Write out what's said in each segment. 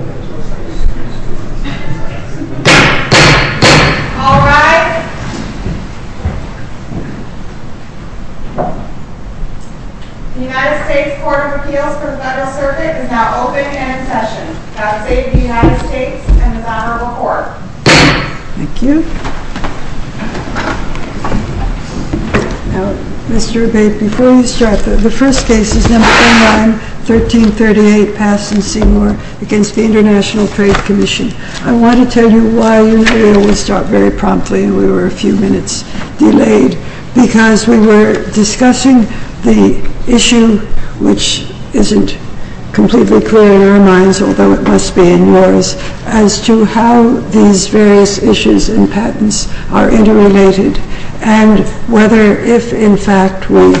All rise. The United States Court of Appeals for the Federal Circuit is now open and in session. God save the United States and His Honorable Court. Thank you. Mr. Obey, before you start, the first case is No. 9, 1338, Passe & Seymour v. ITC. I want to tell you why your hearing was stopped very promptly and we were a few minutes delayed. Because we were discussing the issue, which isn't completely clear in our minds, although it must be in yours, as to how these various issues and patents are interrelated and whether, if in fact we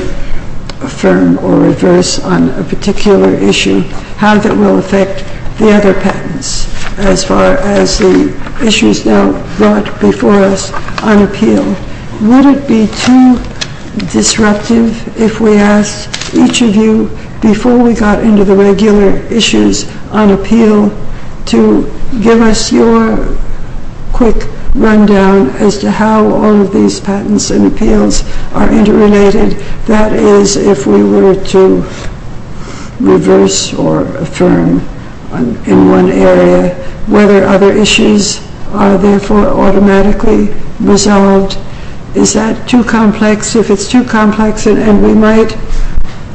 affirm or reverse on a particular issue, how that will affect the other patents as far as the issues now brought before us on appeal. Would it be too disruptive if we asked each of you, before we got into the regular issues on appeal, to give us your quick rundown as to how all of these patents and appeals are interrelated, that is, if we were to reverse or affirm in one area, whether other issues are therefore automatically resolved? Is that too complex? If it's too complex, and we might,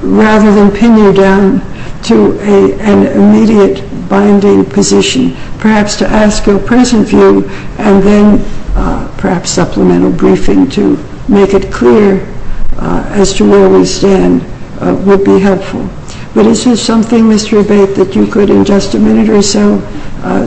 rather than pin you down to an immediate binding position, perhaps to ask your present view and then perhaps supplemental briefing to make it clear as to where we stand would be helpful. But is there something, Mr. Obey, that you could, in just a minute or so,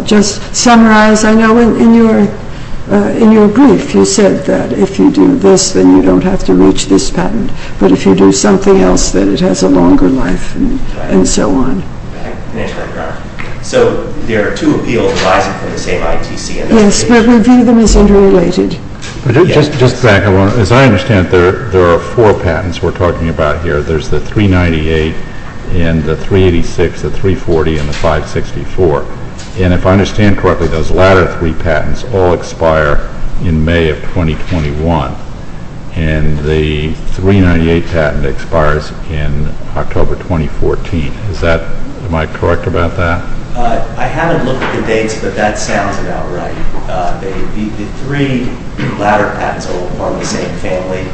just summarize? I know in your brief you said that if you do this, then you don't have to reach this patent, but if you do something else, then it has a longer life and so on. So there are two appeals arising from the same ITC. Yes, but we view them as interrelated. As I understand it, there are four patents we're talking about here. There's the 398 and the 386, the 340 and the 564. And if I understand correctly, those latter three patents all expire in May of 2021, and the 398 patent expires in October 2014. Am I correct about that? I haven't looked at the dates, but that sounds about right. The three latter patents all form the same family,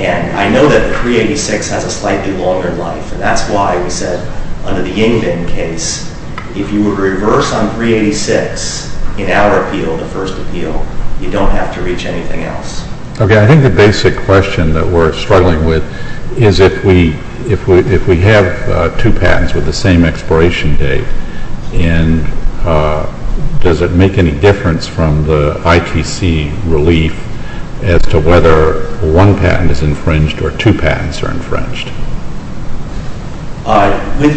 and I know that the 386 has a slightly longer life, and that's why we said under the Yingbin case, if you were to reverse on 386 in our appeal, the first appeal, you don't have to reach anything else. Okay, I think the basic question that we're struggling with is if we have two patents with the same expiration date, and does it make any difference from the ITC relief as to whether one patent is infringed or two patents are infringed? I would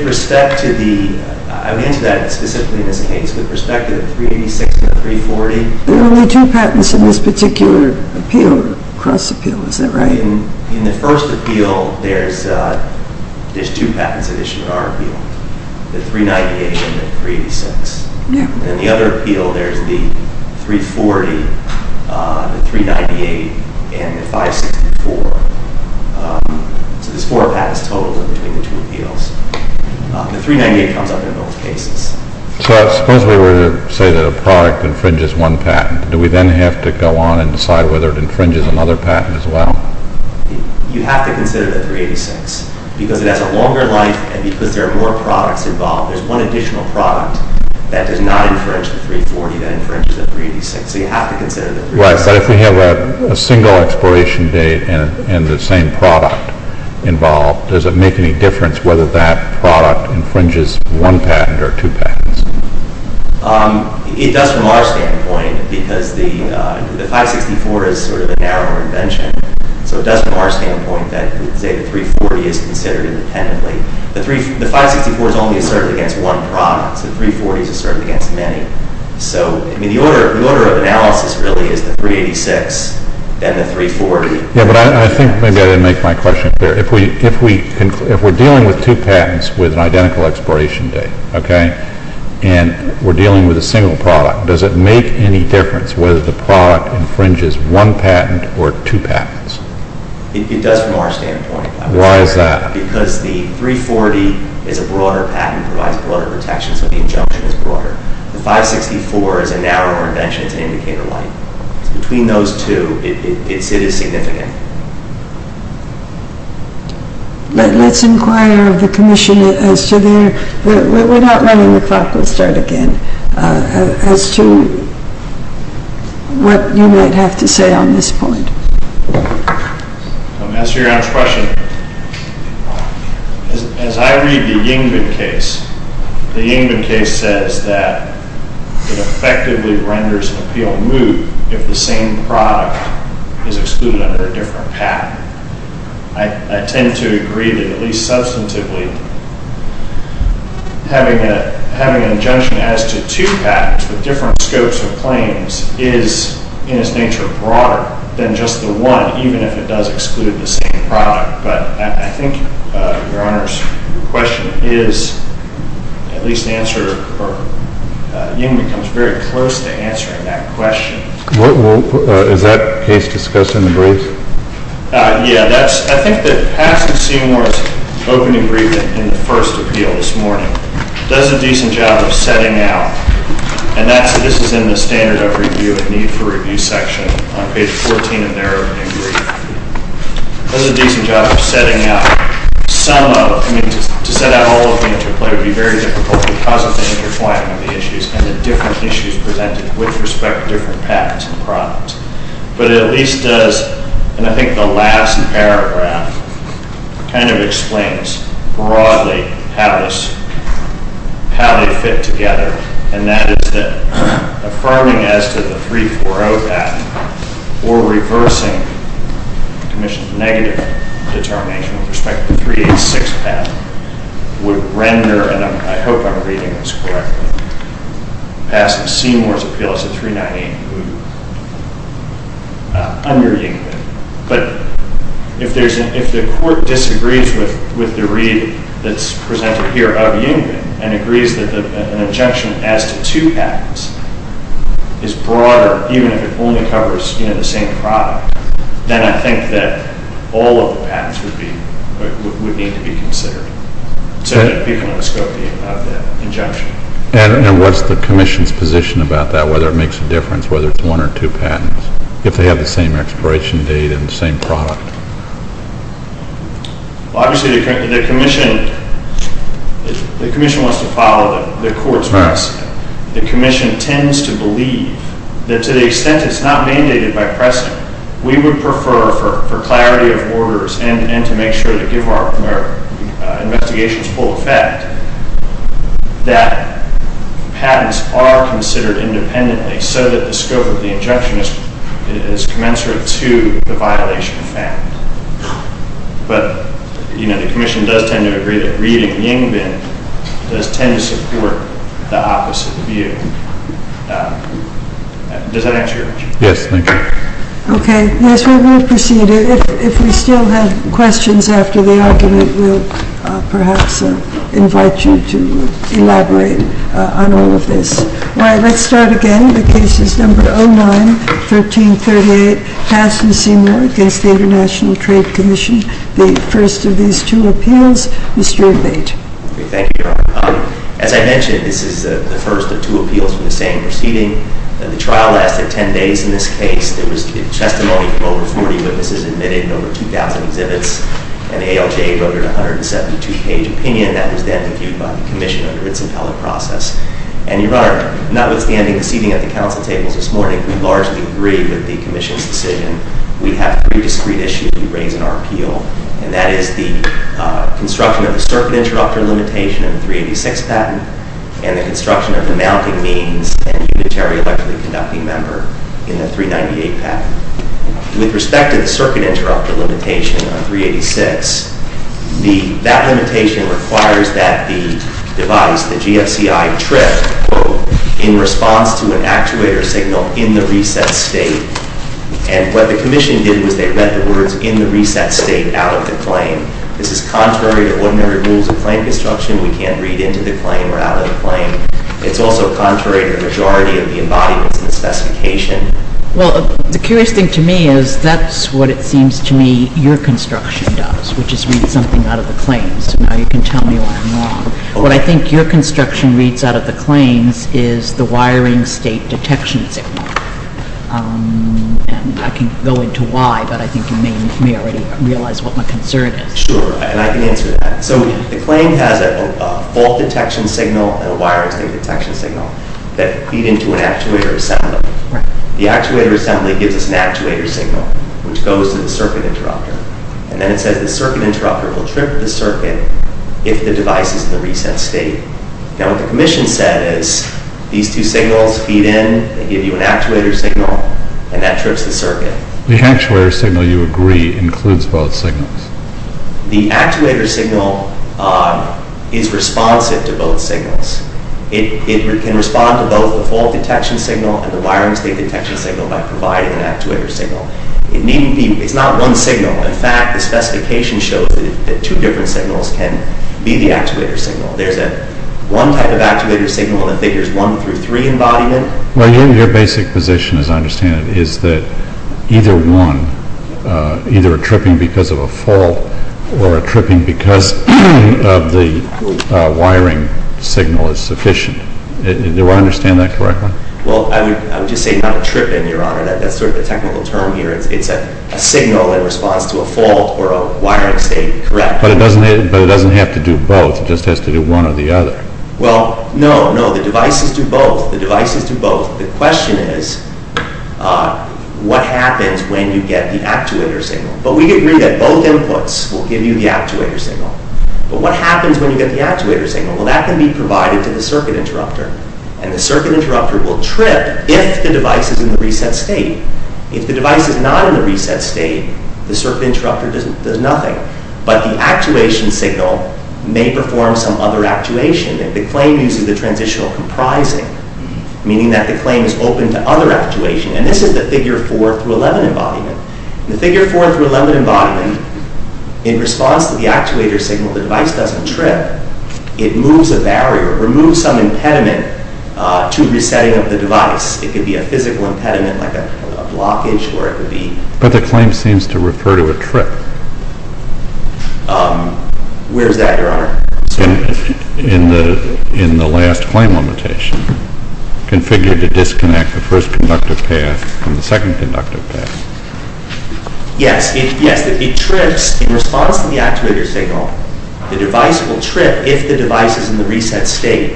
answer that specifically in this case, with respect to the 386 and the 340. There are only two patents in this particular appeal, cross appeal, is that right? In the first appeal, there's two patents that issue in our appeal, the 398 and the 386. In the other appeal, there's the 340, the 398, and the 564. So there's four patents total in between the two appeals. The 398 comes up in both cases. So suppose we were to say that a product infringes one patent. Do we then have to go on and decide whether it infringes another patent as well? You have to consider the 386, because it has a longer life, and because there are more products involved. There's one additional product that does not infringe the 340 that infringes the 386, so you have to consider the 386. Right, but if we have a single expiration date and the same product involved, does it make any difference whether that product infringes one patent or two patents? It does from our standpoint, because the 564 is sort of a narrower invention. So it does from our standpoint that the 340 is considered independently. The 564 is only asserted against one product. The 340 is asserted against many. So the order of analysis really is the 386, then the 340. Yeah, but I think maybe I didn't make my question clear. If we're dealing with two patents with an identical expiration date, okay, and we're dealing with a single product, does it make any difference whether the product infringes one patent or two patents? It does from our standpoint. Why is that? Because the 340 is a broader patent, provides broader protection, so the injunction is broader. The 564 is a narrower invention. It's an indicator light. So between those two, it is significant. Let's inquire of the Commission as to their—we're not running the clock. We'll start again—as to what you might have to say on this point. I'll answer your honest question. As I read the Yingbin case, the Yingbin case says that it effectively renders an appeal moot if the same product is excluded under a different patent. I tend to agree that, at least substantively, having an injunction as to two patents with different scopes of claims is, in its nature, broader than just the one, even if it does exclude the same product. But I think Your Honor's question is, at least answered, or Yingbin comes very close to answering that question. Is that case discussed in the brief? I think that passing Seymour's open agreement in the first appeal this morning does a decent job of setting out—and this is in the standard of review and need for review section on page 14 of their open agreement—does a decent job of setting out some of— I mean, to set out all of the interplay would be very difficult because of the interplaying of the issues and the different issues presented with respect to different patents and products. But it at least does—and I think the last paragraph kind of explains broadly how they fit together, and that is that affirming as to the 340 patent or reversing the Commission's negative determination with respect to the 386 patent would render—and I hope I'm reading this correctly—passing Seymour's appeal as a 398 moot. Under Yingbin. But if the Court disagrees with the read that's presented here of Yingbin and agrees that an injunction as to two patents is broader, even if it only covers the same product, then I think that all of the patents would need to be considered to become the scope of the injunction. And what's the Commission's position about that, whether it makes a difference whether it's one or two patents, if they have the same expiration date and the same product? Well, obviously, the Commission wants to follow the Court's precedent. But, you know, the Commission does tend to agree that reading Yingbin does tend to support the opposite view. Does that answer your question? Yes, thank you. Okay. Yes, we will proceed. If we still have questions after the argument, we'll perhaps invite you to elaborate on all of this. All right, let's start again with Cases No. 09, 13, 38, passed in Seymour against the International Trade Commission. The first of these two appeals, Mr. Obeyte. Thank you, Your Honor. As I mentioned, this is the first of two appeals from the same proceeding. The trial lasted 10 days. In this case, there was testimony from over 40 witnesses admitted in over 2,000 exhibits, and ALJ voted a 172-page opinion that was then reviewed by the Commission under its appellate process. And, Your Honor, notwithstanding the seating at the Council tables this morning, we largely agree with the Commission's decision. We have three discrete issues we raise in our appeal, and that is the construction of the circuit introductory limitation of the 386 patent and the construction of the mounting means and unitary electrically conducting member in the 398 patent. With respect to the circuit introductory limitation on 386, that limitation requires that the device, the GFCI, trip in response to an actuator signal in the reset state. And what the Commission did was they read the words, in the reset state, out of the claim. This is contrary to ordinary rules of claim construction. We can't read into the claim or out of the claim. It's also contrary to the majority of the embodiments in the specification. Well, the curious thing to me is that's what it seems to me your construction does, which is read something out of the claims. So now you can tell me what I'm wrong. What I think your construction reads out of the claims is the wiring state detection signal. And I can go into why, but I think you may already realize what my concern is. Sure, and I can answer that. So the claim has a fault detection signal and a wiring state detection signal that feed into an actuator assembly. The actuator assembly gives us an actuator signal, which goes to the circuit introductor. And then it says the circuit introductor will trip the circuit if the device is in the reset state. Now what the commission said is these two signals feed in, they give you an actuator signal, and that trips the circuit. The actuator signal, you agree, includes both signals. The actuator signal is responsive to both signals. It can respond to both the fault detection signal and the wiring state detection signal by providing an actuator signal. It's not one signal. In fact, the specification shows that two different signals can be the actuator signal. There's one type of actuator signal that figures one through three embodiment. Well, your basic position, as I understand it, is that either one, either a tripping because of a fault or a tripping because of the wiring signal is sufficient. Do I understand that correctly? Well, I would just say not a tripping, Your Honor. That's sort of the technical term here. It's a signal that responds to a fault or a wiring state, correct. But it doesn't have to do both. It just has to do one or the other. Well, no, no. The devices do both. The devices do both. The question is what happens when you get the actuator signal. But we agree that both inputs will give you the actuator signal. But what happens when you get the actuator signal? Well, that can be provided to the circuit interrupter. And the circuit interrupter will trip if the device is in the reset state. If the device is not in the reset state, the circuit interrupter does nothing. But the actuation signal may perform some other actuation. And the claim uses the transitional comprising, meaning that the claim is open to other actuation. And this is the Figure 4 through 11 embodiment. In the Figure 4 through 11 embodiment, in response to the actuator signal, the device doesn't trip. It moves a barrier, removes some impediment to resetting of the device. It could be a physical impediment like a blockage or it could be… But the claim seems to refer to a trip. Where is that, Your Honor? In the last claim limitation, configured to disconnect the first conductive path from the second conductive path. Yes, it trips in response to the actuator signal. The device will trip if the device is in the reset state.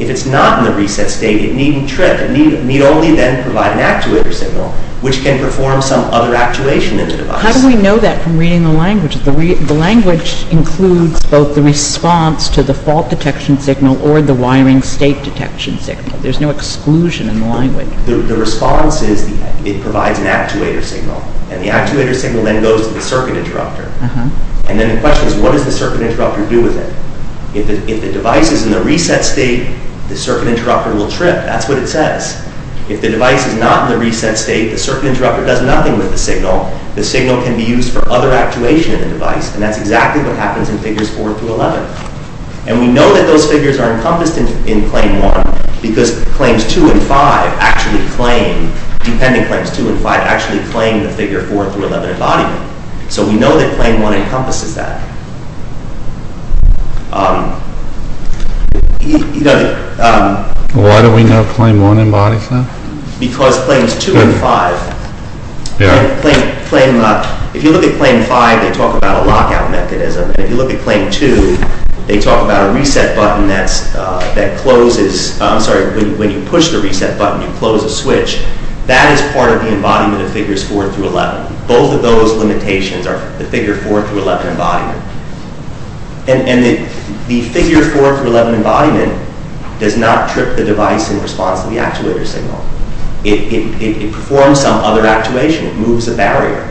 If it's not in the reset state, it needn't trip. It need only then provide an actuator signal, which can perform some other actuation in the device. How do we know that from reading the language? The language includes both the response to the fault detection signal or the wiring state detection signal. There's no exclusion in the language. The response is it provides an actuator signal. And the actuator signal then goes to the circuit interrupter. And then the question is, what does the circuit interrupter do with it? If the device is in the reset state, the circuit interrupter will trip. That's what it says. If the device is not in the reset state, the circuit interrupter does nothing with the signal. The signal can be used for other actuation in the device. And that's exactly what happens in Figures 4 through 11. And we know that those figures are encompassed in Claim 1, because Claims 2 and 5 actually claim… Dependent Claims 2 and 5 actually claim the Figure 4 through 11 embodiment. So we know that Claim 1 encompasses that. You know… Why do we know Claim 1 embodies that? Because Claims 2 and 5… Yeah. Claim… If you look at Claim 5, they talk about a lockout mechanism. And if you look at Claim 2, they talk about a reset button that closes… I'm sorry. When you push the reset button, you close a switch. That is part of the embodiment of Figures 4 through 11. Both of those limitations are the Figure 4 through 11 embodiment. And the Figure 4 through 11 embodiment does not trip the device in response to the actuator signal. It performs some other actuation. It moves a barrier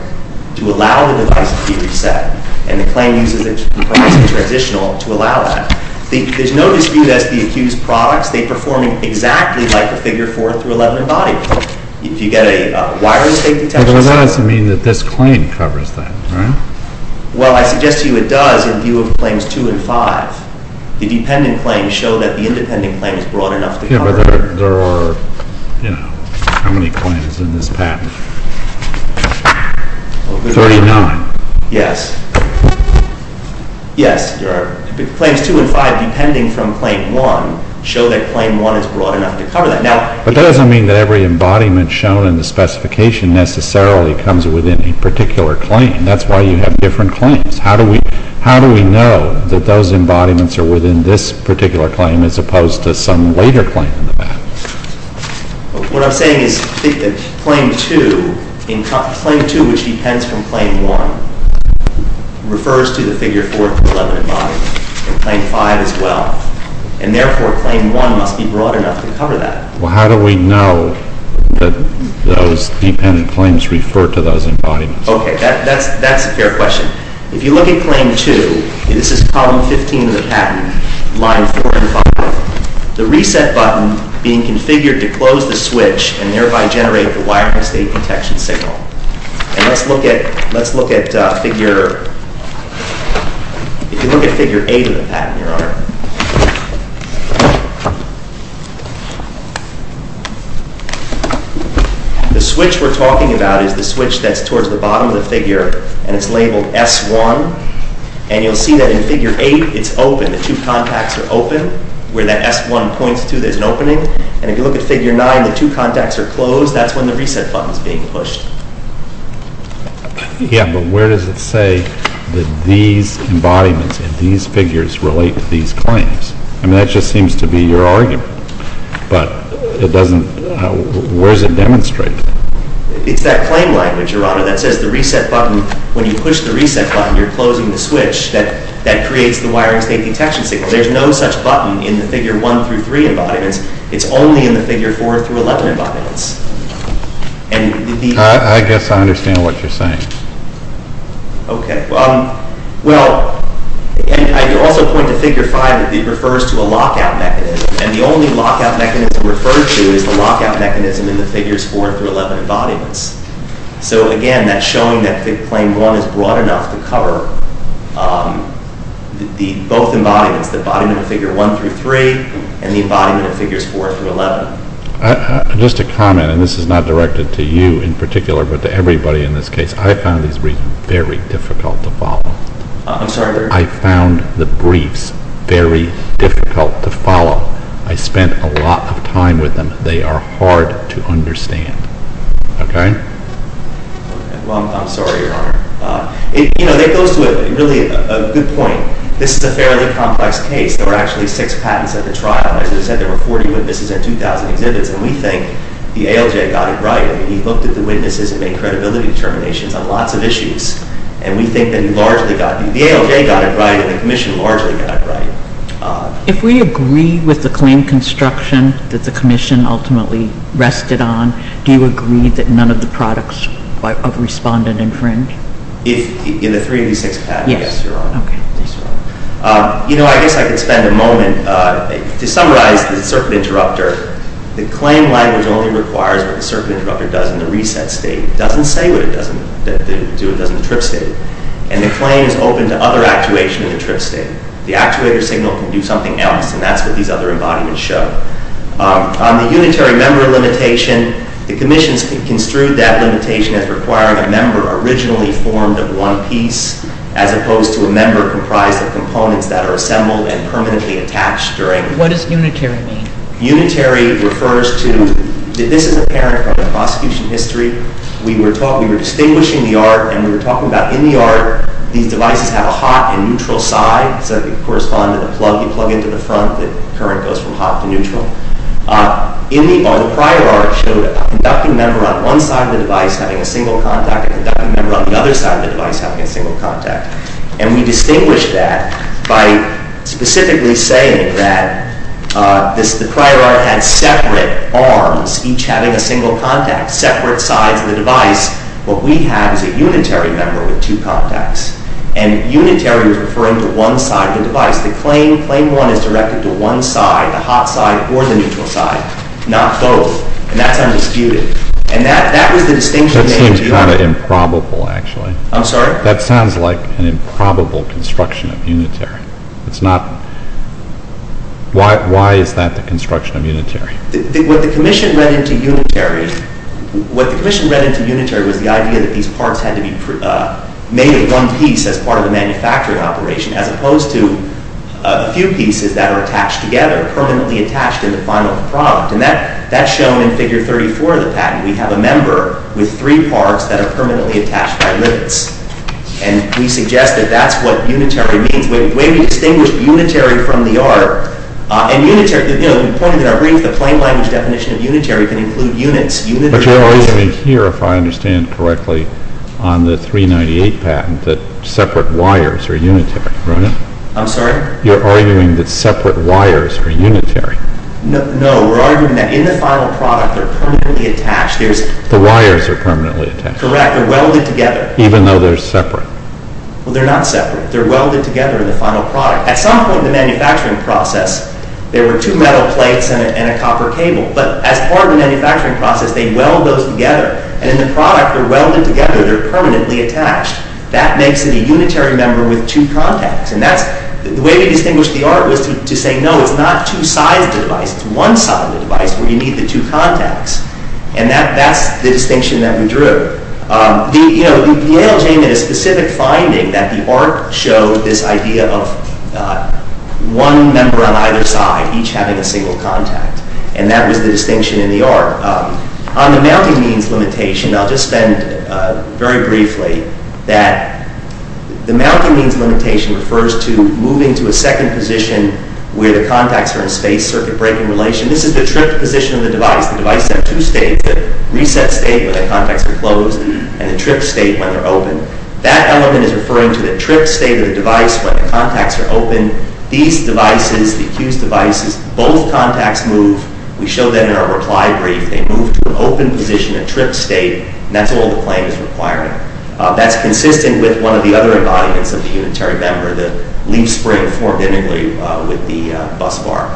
to allow the device to be reset. And the claim uses its replacement transitional to allow that. There's no dispute as to the accused products. They perform exactly like the Figure 4 through 11 embodiment. If you get a wireless fake detection… But that doesn't mean that this claim covers that, right? Well, I suggest to you it does in view of Claims 2 and 5. The dependent claims show that the independent claim is broad enough to cover… Yeah, but there are, you know… How many claims in this patent? Thirty-nine. Yes. Yes, there are… Claims 2 and 5, depending from Claim 1, show that Claim 1 is broad enough to cover that. Now… But that doesn't mean that every embodiment shown in the specification necessarily comes within a particular claim. That's why you have different claims. How do we know that those embodiments are within this particular claim as opposed to some later claim in the patent? What I'm saying is that Claim 2, which depends from Claim 1, refers to the Figure 4 through 11 embodiment, and Claim 5 as well. And therefore, Claim 1 must be broad enough to cover that. Well, how do we know that those dependent claims refer to those embodiments? Okay, that's a fair question. If you look at Claim 2, this is Column 15 of the patent, Line 4 and 5, the reset button being configured to close the switch and thereby generate the wiring state detection signal. And let's look at Figure 8 of the patent, Your Honor. The switch we're talking about is the switch that's towards the bottom of the figure, and it's labeled S1. And you'll see that in Figure 8, it's open. The two contacts are open. Where that S1 points to, there's an opening. And if you look at Figure 9, the two contacts are closed. That's when the reset button is being pushed. Yeah, but where does it say that these embodiments and these figures relate to these claims? I mean, that just seems to be your argument. But where does it demonstrate that? It's that claim language, Your Honor, that says the reset button, when you push the reset button, you're closing the switch. That creates the wiring state detection signal. There's no such button in the Figure 1 through 3 embodiments. It's only in the Figure 4 through 11 embodiments. I guess I understand what you're saying. Okay. Well, I could also point to Figure 5. It refers to a lockout mechanism. And the only lockout mechanism referred to is the lockout mechanism in the Figures 4 through 11 embodiments. So, again, that's showing that Claim 1 is broad enough to cover both embodiments, the embodiment of Figure 1 through 3 and the embodiment of Figures 4 through 11. Just a comment, and this is not directed to you in particular, but to everybody in this case. I found these briefs very difficult to follow. I'm sorry? I found the briefs very difficult to follow. I spent a lot of time with them. They are hard to understand. Okay? Well, I'm sorry, Your Honor. You know, that goes to a really good point. This is a fairly complex case. There were actually six patents at the trial. As I said, there were 40 witnesses and 2,000 exhibits. And we think the ALJ got it right. He looked at the witnesses and made credibility determinations on lots of issues. And we think that he largely got it right. The ALJ got it right, and the Commission largely got it right. If we agree with the claim construction that the Commission ultimately rested on, do you agree that none of the products of respondent infringe? In the three of these six patents? Yes, Your Honor. Okay. You know, I guess I could spend a moment. To summarize the circuit interrupter, the claim language only requires what the circuit interrupter does in the reset state. It doesn't say what it does in the trip state. And the claim is open to other actuation in the trip state. The actuator signal can do something else, and that's what these other embodiments show. On the unitary member limitation, the Commission construed that limitation as requiring a member originally formed of one piece as opposed to a member comprised of components that are assembled and permanently attached during. What does unitary mean? Unitary refers to, this is apparent from the prosecution history. We were distinguishing the art, and we were talking about in the art, these devices have a hot and neutral side, so they correspond to the plug. You plug into the front, the current goes from hot to neutral. In the prior art, it showed a conducting member on one side of the device having a single contact, a conducting member on the other side of the device having a single contact. And we distinguished that by specifically saying that the prior art had separate arms, each having a single contact, separate sides of the device. What we have is a unitary member with two contacts. And unitary was referring to one side of the device. The claim one is directed to one side, the hot side, or the neutral side, not both. And that's undisputed. And that was the distinction. That seems kind of improbable actually. I'm sorry? That sounds like an improbable construction of unitary. It's not. Why is that the construction of unitary? What the commission read into unitary was the idea that these parts had to be made in one piece as part of the manufacturing operation as opposed to a few pieces that are attached together, permanently attached in the final product. And that's shown in Figure 34 of the patent. We have a member with three parts that are permanently attached by limits. And we suggest that that's what unitary means. The way we distinguish unitary from the art, and unitary, you know, the point of it, I read the plain language definition of unitary can include units. But you're arguing here, if I understand correctly, on the 398 patent that separate wires are unitary, right? I'm sorry? You're arguing that separate wires are unitary. No, we're arguing that in the final product, they're permanently attached. The wires are permanently attached. Correct. They're welded together. Even though they're separate. Well, they're not separate. They're welded together in the final product. At some point in the manufacturing process, there were two metal plates and a copper cable. But as part of the manufacturing process, they weld those together. And in the product, they're welded together. They're permanently attached. That makes it a unitary member with two contacts. And the way we distinguish the art was to say, no, it's not two sides of the device. It's one side of the device where you need the two contacts. And that's the distinction that we drew. You know, the ALJ made a specific finding that the art showed this idea of one member on either side, each having a single contact. And that was the distinction in the art. On the mounting means limitation, I'll just spend very briefly that the mounting means limitation refers to moving to a second position where the contacts are in space, circuit breaking relation. This is the tripped position of the device. The device has two states, the reset state when the contacts are closed and the tripped state when they're open. That element is referring to the tripped state of the device when the contacts are open. These devices, the accused devices, both contacts move. We show that in our reply brief. They move to an open position, a tripped state, and that's all the claim is requiring. That's consistent with one of the other embodiments of the unitary member, the leaf spring formed intimately with the bus bar.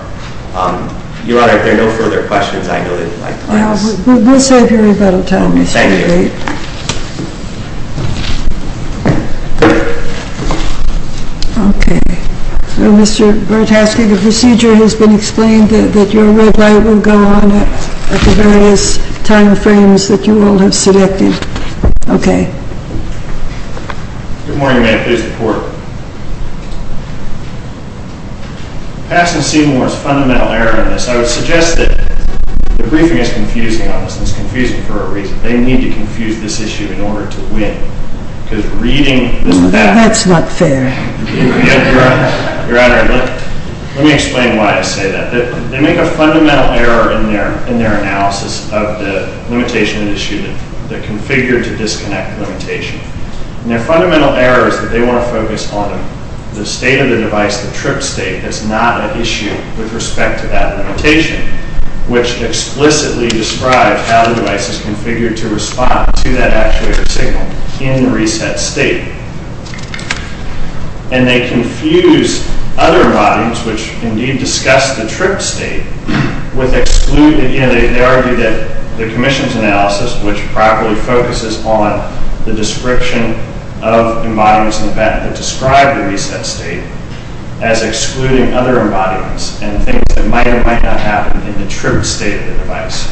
Your Honor, if there are no further questions, I know that you'd like to ask. We'll save your rebuttal time, Mr. DeGate. Thank you. Okay. Mr. Burtowski, the procedure has been explained that your red light will go on at the various time frames that you all have selected. Okay. Good morning, Your Honor. Please report. Passing Seymour is a fundamental error in this. I would suggest that the briefing is confusing on this and it's confusing for a reason. They need to confuse this issue in order to win. Because reading this back... That's not fair. Your Honor, let me explain why I say that. They make a fundamental error in their analysis of the limitation issue, the configured-to-disconnect limitation. And their fundamental error is that they want to focus on the state of the device, the tripped state, that's not an issue with respect to that limitation, which explicitly describes how the device is configured to respond to that actuator signal in the reset state. And they confuse other embodiments, which indeed discuss the tripped state, with excluding... You know, they argue that the commission's analysis, which properly focuses on the description of embodiments in the patent that describe the reset state, as excluding other embodiments and things that might or might not happen in the tripped state of the device.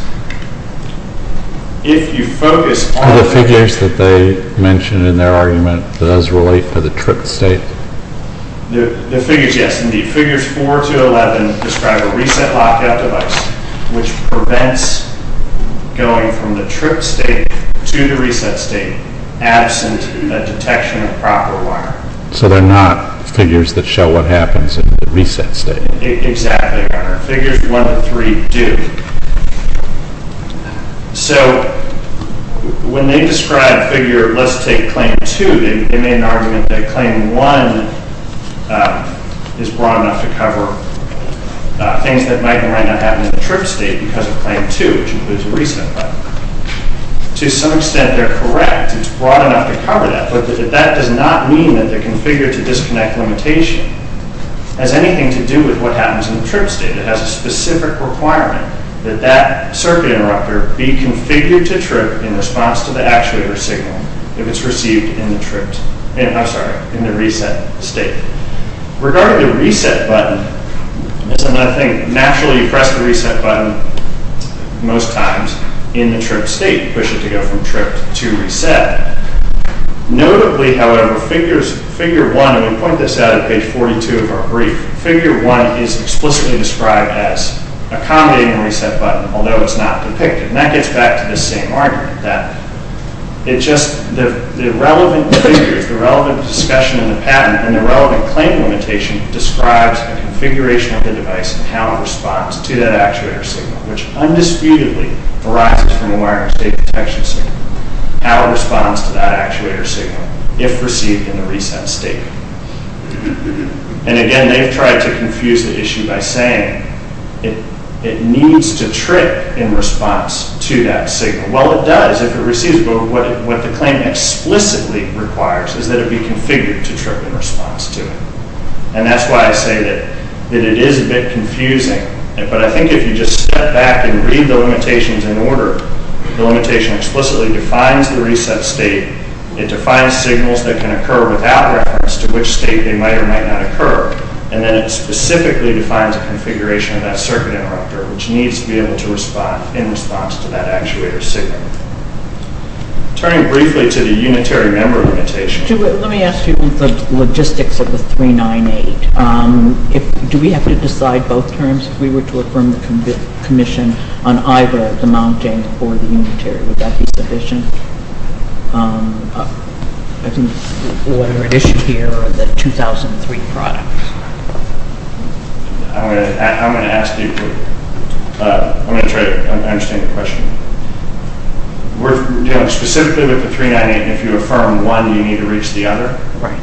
If you focus on... The figures that they mention in their argument does relate to the tripped state? The figures, yes, indeed. Figures 4 to 11 describe a reset lockout device, which prevents going from the tripped state to the reset state, absent a detection of proper wire. So they're not figures that show what happens in the reset state. Exactly, Your Honor. Figures 1 to 3 do. So, when they describe the figure, let's take claim 2, they made an argument that claim 1 is broad enough to cover things that might or might not happen in the tripped state because of claim 2, which includes a reset button. To some extent, they're correct. It's broad enough to cover that, but that does not mean that the configured-to-disconnect limitation has anything to do with what happens in the tripped state. It has a specific requirement that that circuit interrupter be configured to trip in response to the actuator signal if it's received in the tripped... I'm sorry, in the reset state. Regarding the reset button, it's another thing. Naturally, you press the reset button most times in the tripped state. You push it to go from tripped to reset. Notably, however, figure 1, and we point this out at page 42 of our brief, figure 1 is explicitly described as accommodating the reset button, although it's not depicted, and that gets back to the same argument, that it's just the relevant figures, the relevant discussion in the patent, and the relevant claim limitation describes the configuration of the device and how it responds to that actuator signal, which undisputedly arises from the wiring state detection signal, how it responds to that actuator signal if received in the reset state. And again, they've tried to confuse the issue by saying it needs to trip in response to that signal. Well, it does if it receives, but what the claim explicitly requires is that it be configured to trip in response to it. And that's why I say that it is a bit confusing, but I think if you just step back and read the limitations in order, the limitation explicitly defines the reset state. It defines signals that can occur without reference to which state they might or might not occur. And then it specifically defines a configuration of that circuit interrupter, which needs to be able to respond in response to that actuator signal. Turning briefly to the unitary member limitation. Let me ask you about the logistics of the 398. Do we have to decide both terms if we were to affirm the commission on either the mounting or the unitary? Would that be sufficient? I think what we're at issue here are the 2003 products. I'm going to try to understand the question. Specifically with the 398, if you affirm one, you need to reach the other? Right.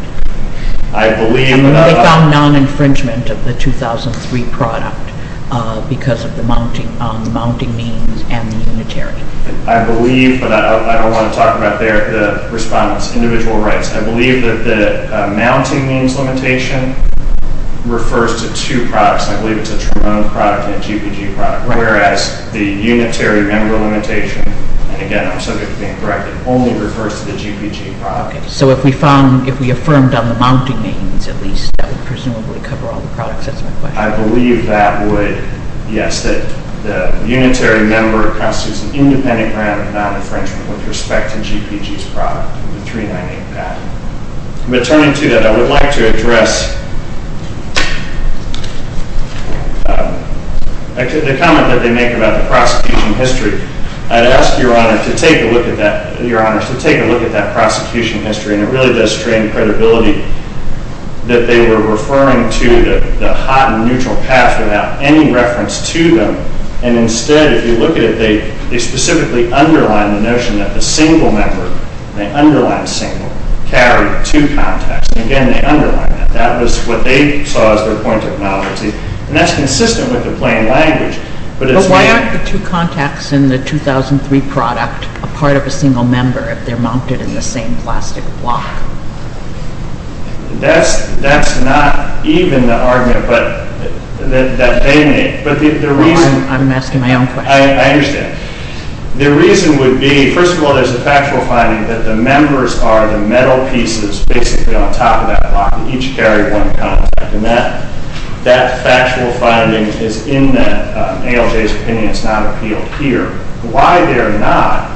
They found non-infringement of the 2003 product because of the mounting means and the unitary. I believe, but I don't want to talk about the respondents' individual rights. I believe that the mounting means limitation refers to two products. I believe it's a Trimone product and a GPG product, whereas the unitary member limitation, and again I'm subject to being corrected, only refers to the GPG product. So if we affirmed on the mounting means at least, that would presumably cover all the products. That's my question. I believe that would, yes. The unitary member constitutes an independent grant of non-infringement with respect to GPG's product, the 398 patent. Returning to that, I would like to address the comment that they make about the prosecution history. I'd ask Your Honor to take a look at that prosecution history, and it really does strain credibility that they were referring to the hot and neutral path without any reference to them, and instead if you look at it, they specifically underline the notion that the single member, they underline single, carry two contacts, and again they underline that. That was what they saw as their point of knowledge, and that's consistent with the plain language. But why aren't the two contacts in the 2003 product a part of a single member if they're mounted in the same plastic block? That's not even the argument that they make. I'm asking my own question. I understand. The reason would be, first of all, there's a factual finding that the members are the metal pieces basically on top of that block that each carry one contact, and that factual finding is in that ALJ's opinion. It's not appealed here. Why they're not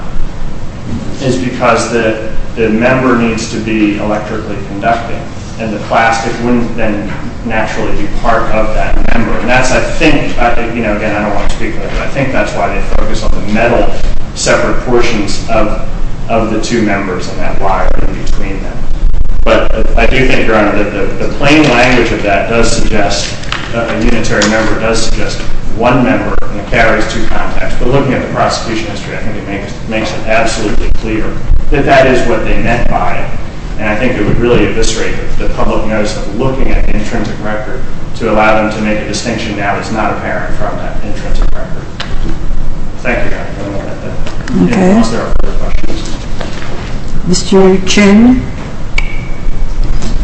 is because the member needs to be electrically conducting, and the plastic wouldn't then naturally be part of that member, and that's, I think, you know, again, I don't want to speak on it, but I think that's why they focus on the metal separate portions of the two members and that wire in between them. But I do think, Your Honor, that the plain language of that does suggest a unitary member does suggest one member and it carries two contacts. But looking at the prosecution history, I think it makes it absolutely clear that that is what they meant by it, and I think it would really eviscerate the public notice of looking at the intrinsic record to allow them to make a distinction that is not apparent from that intrinsic record. Thank you, Your Honor, for the moment. If there are no further questions. Mr. Chin,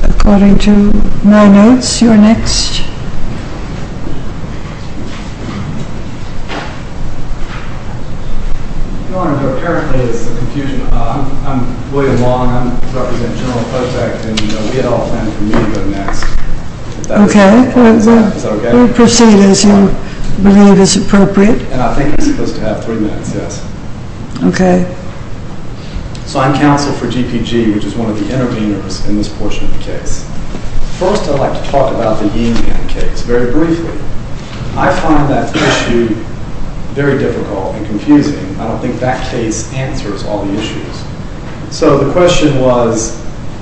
according to my notes, you're next. Your Honor, there apparently is a confusion. I'm William Long, I represent General Potek, and we had all planned for me to go next. Okay, we'll proceed as you believe is appropriate. And I think I'm supposed to have three minutes, yes? Okay. So I'm counsel for GPG, which is one of the interveners in this portion of the case. First, I'd like to talk about the Yin-Yang case very briefly. I find that issue very difficult and confusing. I don't think that case answers all the issues. So the question was,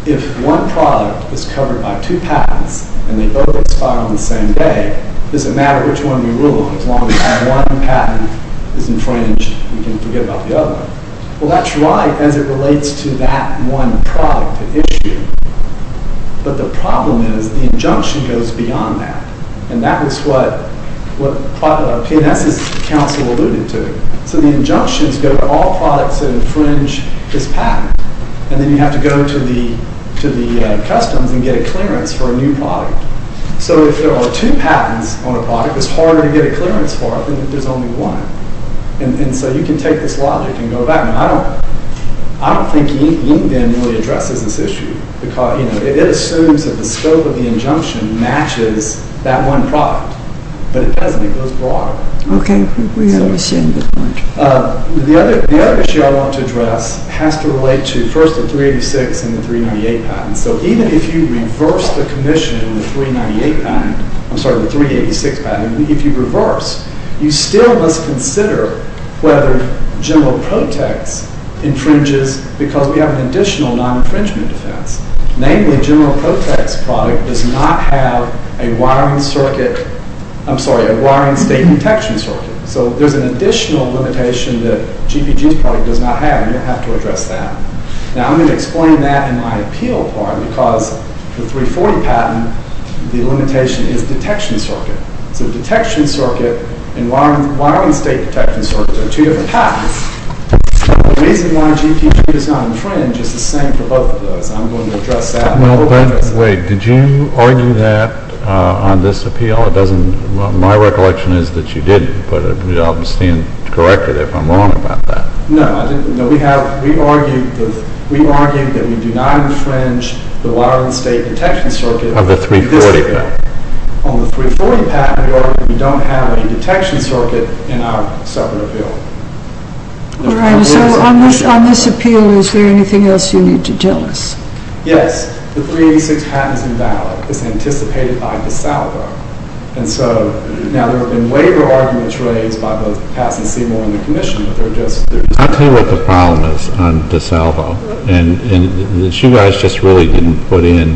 if one product is covered by two patents and they both expire on the same day, does it matter which one we rule on? As long as one patent is infringed, we can forget about the other. Well, that's right as it relates to that one product at issue. But the problem is the injunction goes beyond that, and that was what P&S's counsel alluded to. So the injunction is go to all products that infringe this patent, and then you have to go to the customs and get a clearance for a new product. So if there are two patents on a product, it's harder to get a clearance for it than if there's only one. And so you can take this logic and go back. I don't think Yin-Yang really addresses this issue. It assumes that the scope of the injunction matches that one product, but it doesn't. It goes broader. Okay. We understand the point. The other issue I want to address has to relate to, first, the 386 and the 398 patents. So even if you reverse the commission in the 398 patent, I'm sorry, the 386 patent, if you reverse, you still must consider whether general protects infringes because we have an additional non-infringement defense. Namely, general protects product does not have a wiring state detection circuit. So there's an additional limitation that GPG's product does not have. You don't have to address that. Now, I'm going to explain that in my appeal part because the 340 patent, the limitation is detection circuit. So detection circuit and wiring state detection circuit are two different patents. The reason why GPG does not infringe is the same for both of those. I'm going to address that. Well, wait. Did you argue that on this appeal? It doesn't, well, my recollection is that you didn't, but I'll stand corrected if I'm wrong about that. No, I didn't. No, we have, we argued that we do not infringe the wiring state detection circuit. Of the 340 patent. On the 340 patent, we argue we don't have a detection circuit in our separate appeal. All right. So on this appeal, is there anything else you need to tell us? Yes. The 386 patent is invalid. It's anticipated by DeSalvo. And so, now, there have been waiver arguments raised by both Patsy Seymour and the commission, but they're just, they're just. I'll tell you what the problem is on DeSalvo. And the two guys just really didn't put in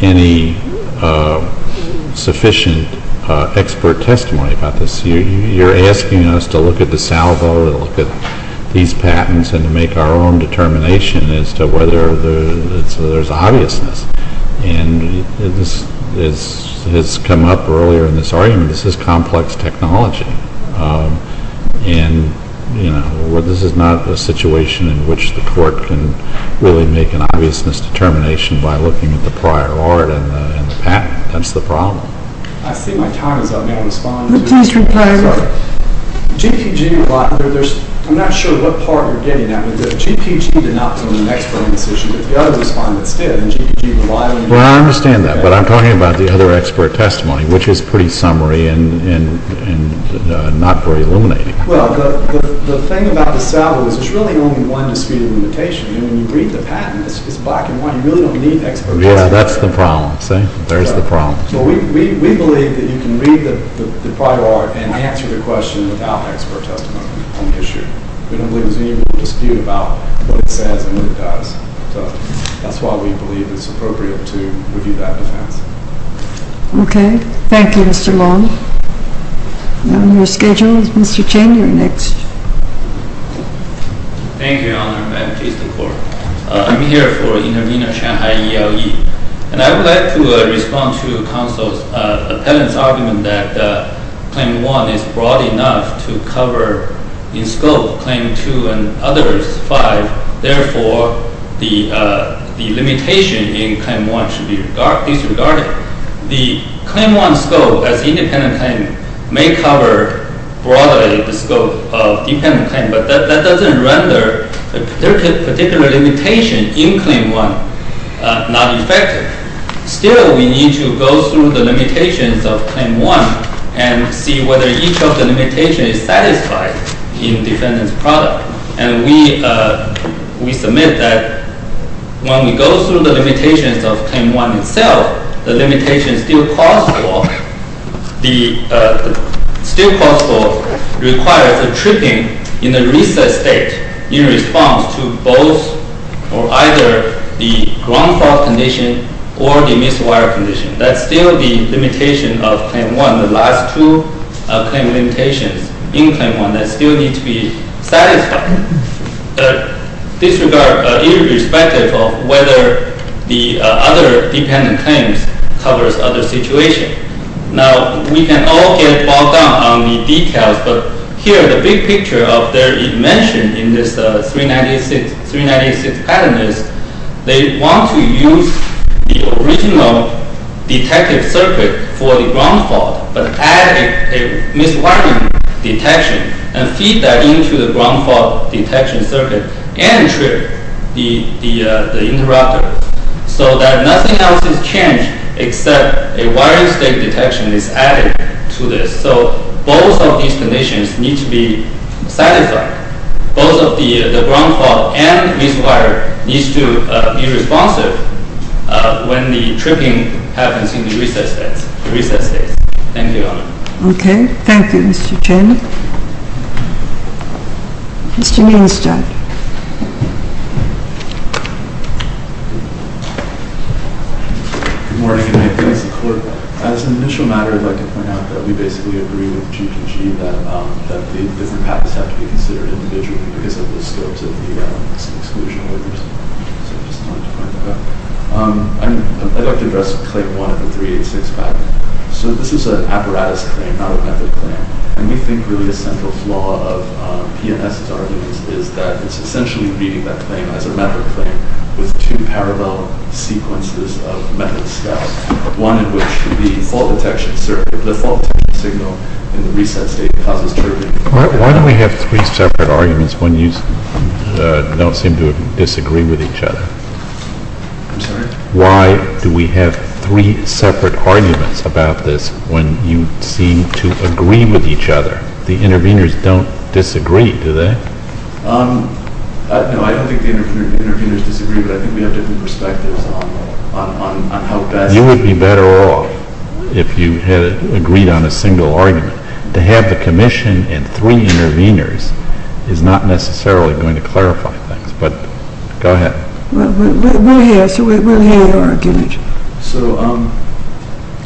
any sufficient expert testimony about this. You're asking us to look at DeSalvo, to look at these patents, and to make our own determination as to whether there's obviousness. And this has come up earlier in this argument. This is complex technology. And, you know, this is not a situation in which the court can really make an obviousness determination by looking at the prior art and the patent. That's the problem. I see my time is up. May I respond? Please reply. Sorry. GPG, there's, I'm not sure what part you're getting at, but the GPG did not form an expert decision. The other respondents did, and GPG relied on. Well, I understand that. But I'm talking about the other expert testimony, which is pretty summary and not very illuminating. Well, the thing about DeSalvo is there's really only one disputed limitation. And when you read the patent, it's black and white. You really don't need expert testimony. Yeah, that's the problem, see? There's the problem. We believe that you can read the prior art and answer the question without expert testimony on the issue. We don't believe there's any real dispute about what it says and what it does. So that's why we believe it's appropriate to review that defense. Okay. Thank you, Mr. Long. Now on your schedule is Mr. Chen. You're next. Thank you, Your Honor. I'm Jason Kor. I'm here for Intervenor Shanghai ELE. And I would like to respond to counsel's appellant's argument that Claim 1 is broad enough to cover in scope Claim 2 and others 5. Therefore, the limitation in Claim 1 should be disregarded. The Claim 1 scope as independent claimant may cover broadly the scope of dependent claimant. But that doesn't render the particular limitation in Claim 1 not effective. Still, we need to go through the limitations of Claim 1 and see whether each of the limitations is satisfied in defendant's product. And we submit that when we go through the limitations of Claim 1 itself, the limitation still possible requires a tripping in the recessed state in response to both or either the ground fault condition or the miswired condition. That's still the limitation of Claim 1, the last two claim limitations in Claim 1 that still need to be satisfied. Disregard irrespective of whether the other dependent claims covers other situation. Now, we can all get bogged down on the details, but here the big picture of their invention in this 396 pattern is they want to use the original detective circuit for the ground fault, but adding a miswiring detection and feed that into the ground fault detection circuit and trip the interrupter so that nothing else is changed except a wiring state detection is added to this. So both of these conditions need to be satisfied. Both of the ground fault and miswired needs to be responsive when the tripping happens in the recessed state. Thank you, Your Honor. Okay. Thank you, Mr. Chen. Mr. Weinstein. Good morning. As an initial matter, I'd like to point out that we basically agree with GGG that the different patterns have to be considered individually because of the scopes of the exclusion orders. So I just wanted to point that out. I'd like to address Claim 1 of the 386 pattern. So this is an apparatus claim, not a method claim, and we think really the central flaw of P&S's argument is that it's essentially reading that claim as a method claim with two parallel sequences of methods spelled, one in which the fault detection signal in the recessed state causes tripping. Why do we have three separate arguments when you don't seem to disagree with each other? Why do we have three separate arguments about this when you seem to agree with each other? The interveners don't disagree, do they? No, I don't think the interveners disagree, but I think we have different perspectives on how best to agree. You would be better off if you had agreed on a single argument. To have the commission and three interveners is not necessarily going to clarify things, but go ahead. We'll hear your argument.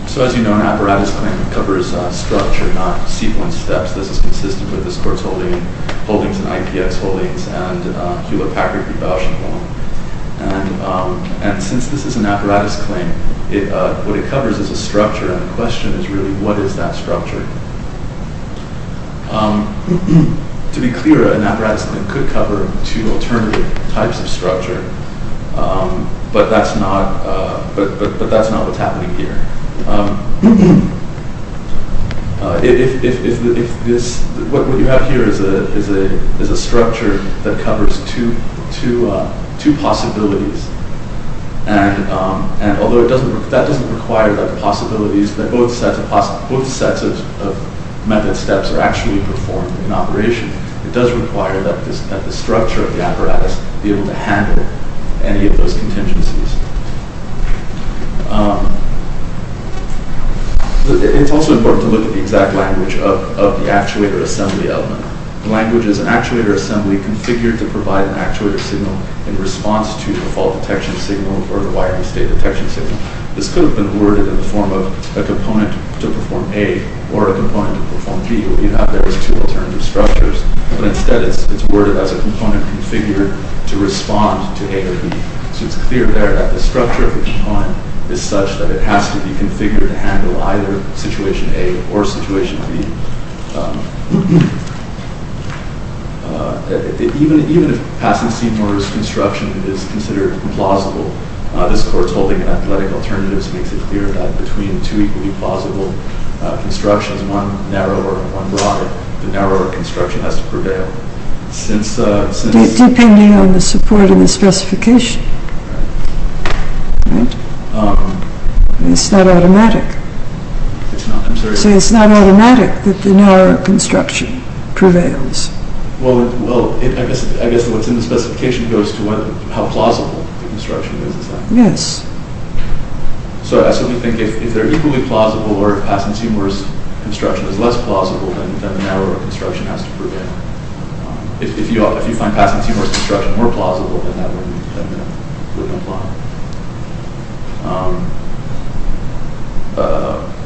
So as you know, an apparatus claim covers structure, not sequence steps. This is consistent with this Court's holdings and IPX holdings and Hewlett Packard v. Bausch & Wong. And since this is an apparatus claim, what it covers is a structure, and the question is really, what is that structure? To be clear, an apparatus claim could cover two alternative types of structure, but that's not what's happening here. What you have here is a structure that covers two possibilities, and although that doesn't require that both sets of method steps are actually performed in operation, it does require that the structure of the apparatus be able to handle any of those contingencies. It's also important to look at the exact language of the actuator assembly element. The language is an actuator assembly configured to provide an actuator signal in response to the fault detection signal or the wiring state detection signal. This could have been worded in the form of a component to perform A or a component to perform B. What you have there is two alternative structures, but instead it's worded as a component configured to respond to A or B. So it's clear there that the structure of the component is such that it has to be configured to handle either situation A or situation B. Even if passing scene orders construction is considered plausible, this court's holding of athletic alternatives makes it clear that between two equally plausible constructions, one narrow or one broad, the narrower construction has to prevail. Depending on the support of the specification, right? It's not automatic. So it's not automatic that the narrower construction prevails. Well, I guess what's in the specification goes to how plausible the construction is. Yes. So that's what we think. If they're equally plausible or if passing scene orders construction is less plausible, then the narrower construction has to prevail. If you find passing scene orders construction more plausible, then that wouldn't apply.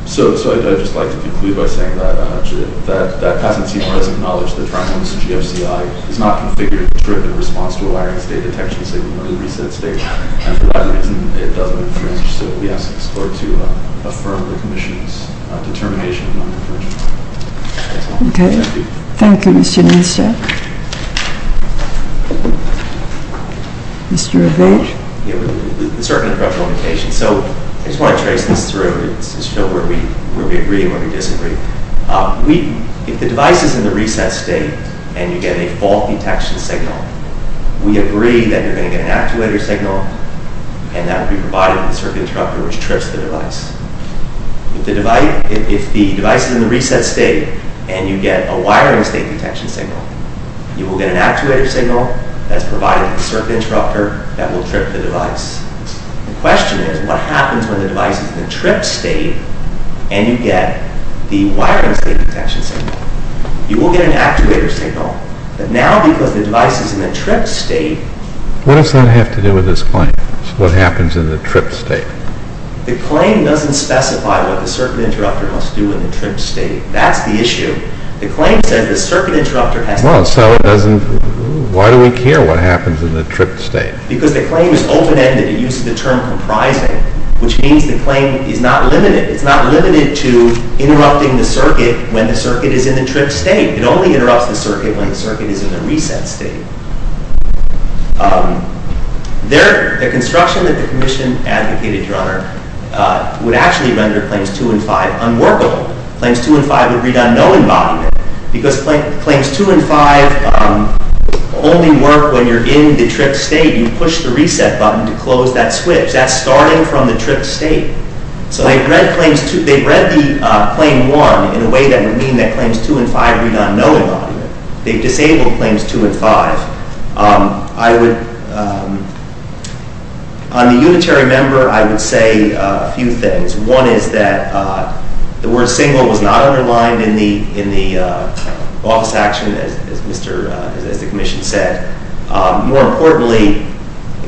So I'd just like to conclude by saying that passing scene orders acknowledge that Toronto's GFCI is not configured strictly in response to a wiring state detection signal, and for that reason it doesn't infringe. So we ask this court to affirm the commission's determination of non-infringement. Thank you. Thank you. Thank you, Mr. Nieschak. Mr. O'Veage. Yeah, with a certain abrupt limitation. So I just want to trace this through. It's still where we agree and where we disagree. If the device is in the reset state and you get a fault detection signal, we agree that you're going to get an actuator signal, and that will be provided with a circuit interrupter which trips the device. If the device is in the reset state and you get a wiring state detection signal, you will get an actuator signal that's provided with a circuit interrupter that will trip the device. The question is, what happens when the device is in the tripped state and you get the wiring state detection signal? You will get an actuator signal. But now because the device is in the tripped state... What does that have to do with this claim? What happens in the tripped state? The claim doesn't specify what the circuit interrupter must do in the tripped state. That's the issue. The claim says the circuit interrupter has to... Well, so it doesn't... Why do we care what happens in the tripped state? Because the claim is open-ended. It uses the term comprising, which means the claim is not limited. It's not limited to interrupting the circuit when the circuit is in the tripped state. It only interrupts the circuit when the circuit is in the reset state. The construction that the Commission advocated, Your Honor, would actually render claims 2 and 5 unworkable. Claims 2 and 5 would read on no embodiment because claims 2 and 5 only work when you're in the tripped state. You push the reset button to close that switch. That's starting from the tripped state. So they've read the claim 1 in a way that would mean that claims 2 and 5 read on no embodiment. They've disabled claims 2 and 5. On the unitary member, I would say a few things. One is that the word single was not underlined in the office action, as the Commission said. More importantly,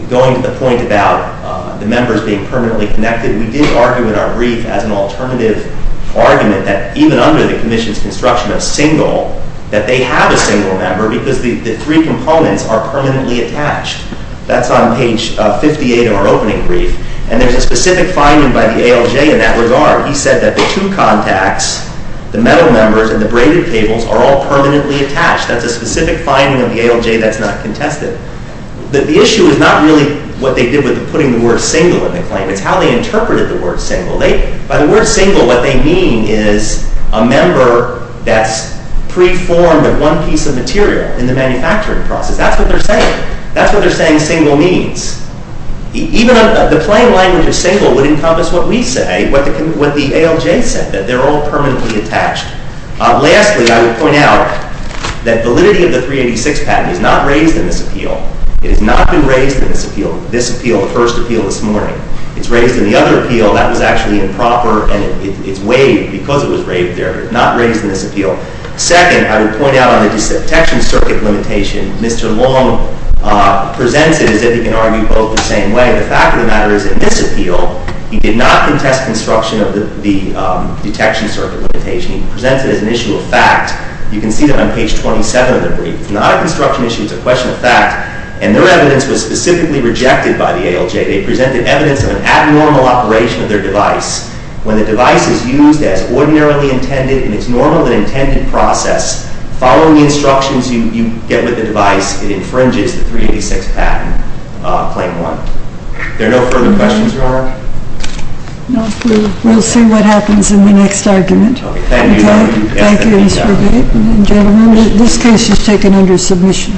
going to the point about the members being permanently connected, we did argue in our brief as an alternative argument that even under the Commission's construction of single, that they have a single member because the three components are permanently attached. That's on page 58 of our opening brief. And there's a specific finding by the ALJ in that regard. He said that the two contacts, the metal members and the braided cables, are all permanently attached. That's a specific finding of the ALJ that's not contested. The issue is not really what they did with putting the word single in the claim. It's how they interpreted the word single. By the word single, what they mean is a member that's preformed of one piece of material in the manufacturing process. That's what they're saying. That's what they're saying single means. Even the plain language of single would encompass what we say, what the ALJ said, that they're all permanently attached. Lastly, I would point out that validity of the 386 patent is not raised in this appeal. It has not been raised in this appeal, the first appeal this morning. It's raised in the other appeal. That was actually improper, and it's waived because it was waived there. It's not raised in this appeal. Second, I would point out on the detection circuit limitation, Mr. Long presents it as if he can argue both the same way. The fact of the matter is in this appeal, he did not contest construction of the detection circuit limitation. He presents it as an issue of fact. You can see that on page 27 of the brief. It's not a construction issue. It's a question of fact. And their evidence was specifically rejected by the ALJ. They presented evidence of an abnormal operation of their device. When the device is used as ordinarily intended in its normal and intended process, following the instructions you get with the device, it infringes the 386 patent, claim one. Are there no further questions, Your Honor? We'll see what happens in the next argument. Thank you. Thank you, Mr. Bate. Gentlemen, this case is taken under submission.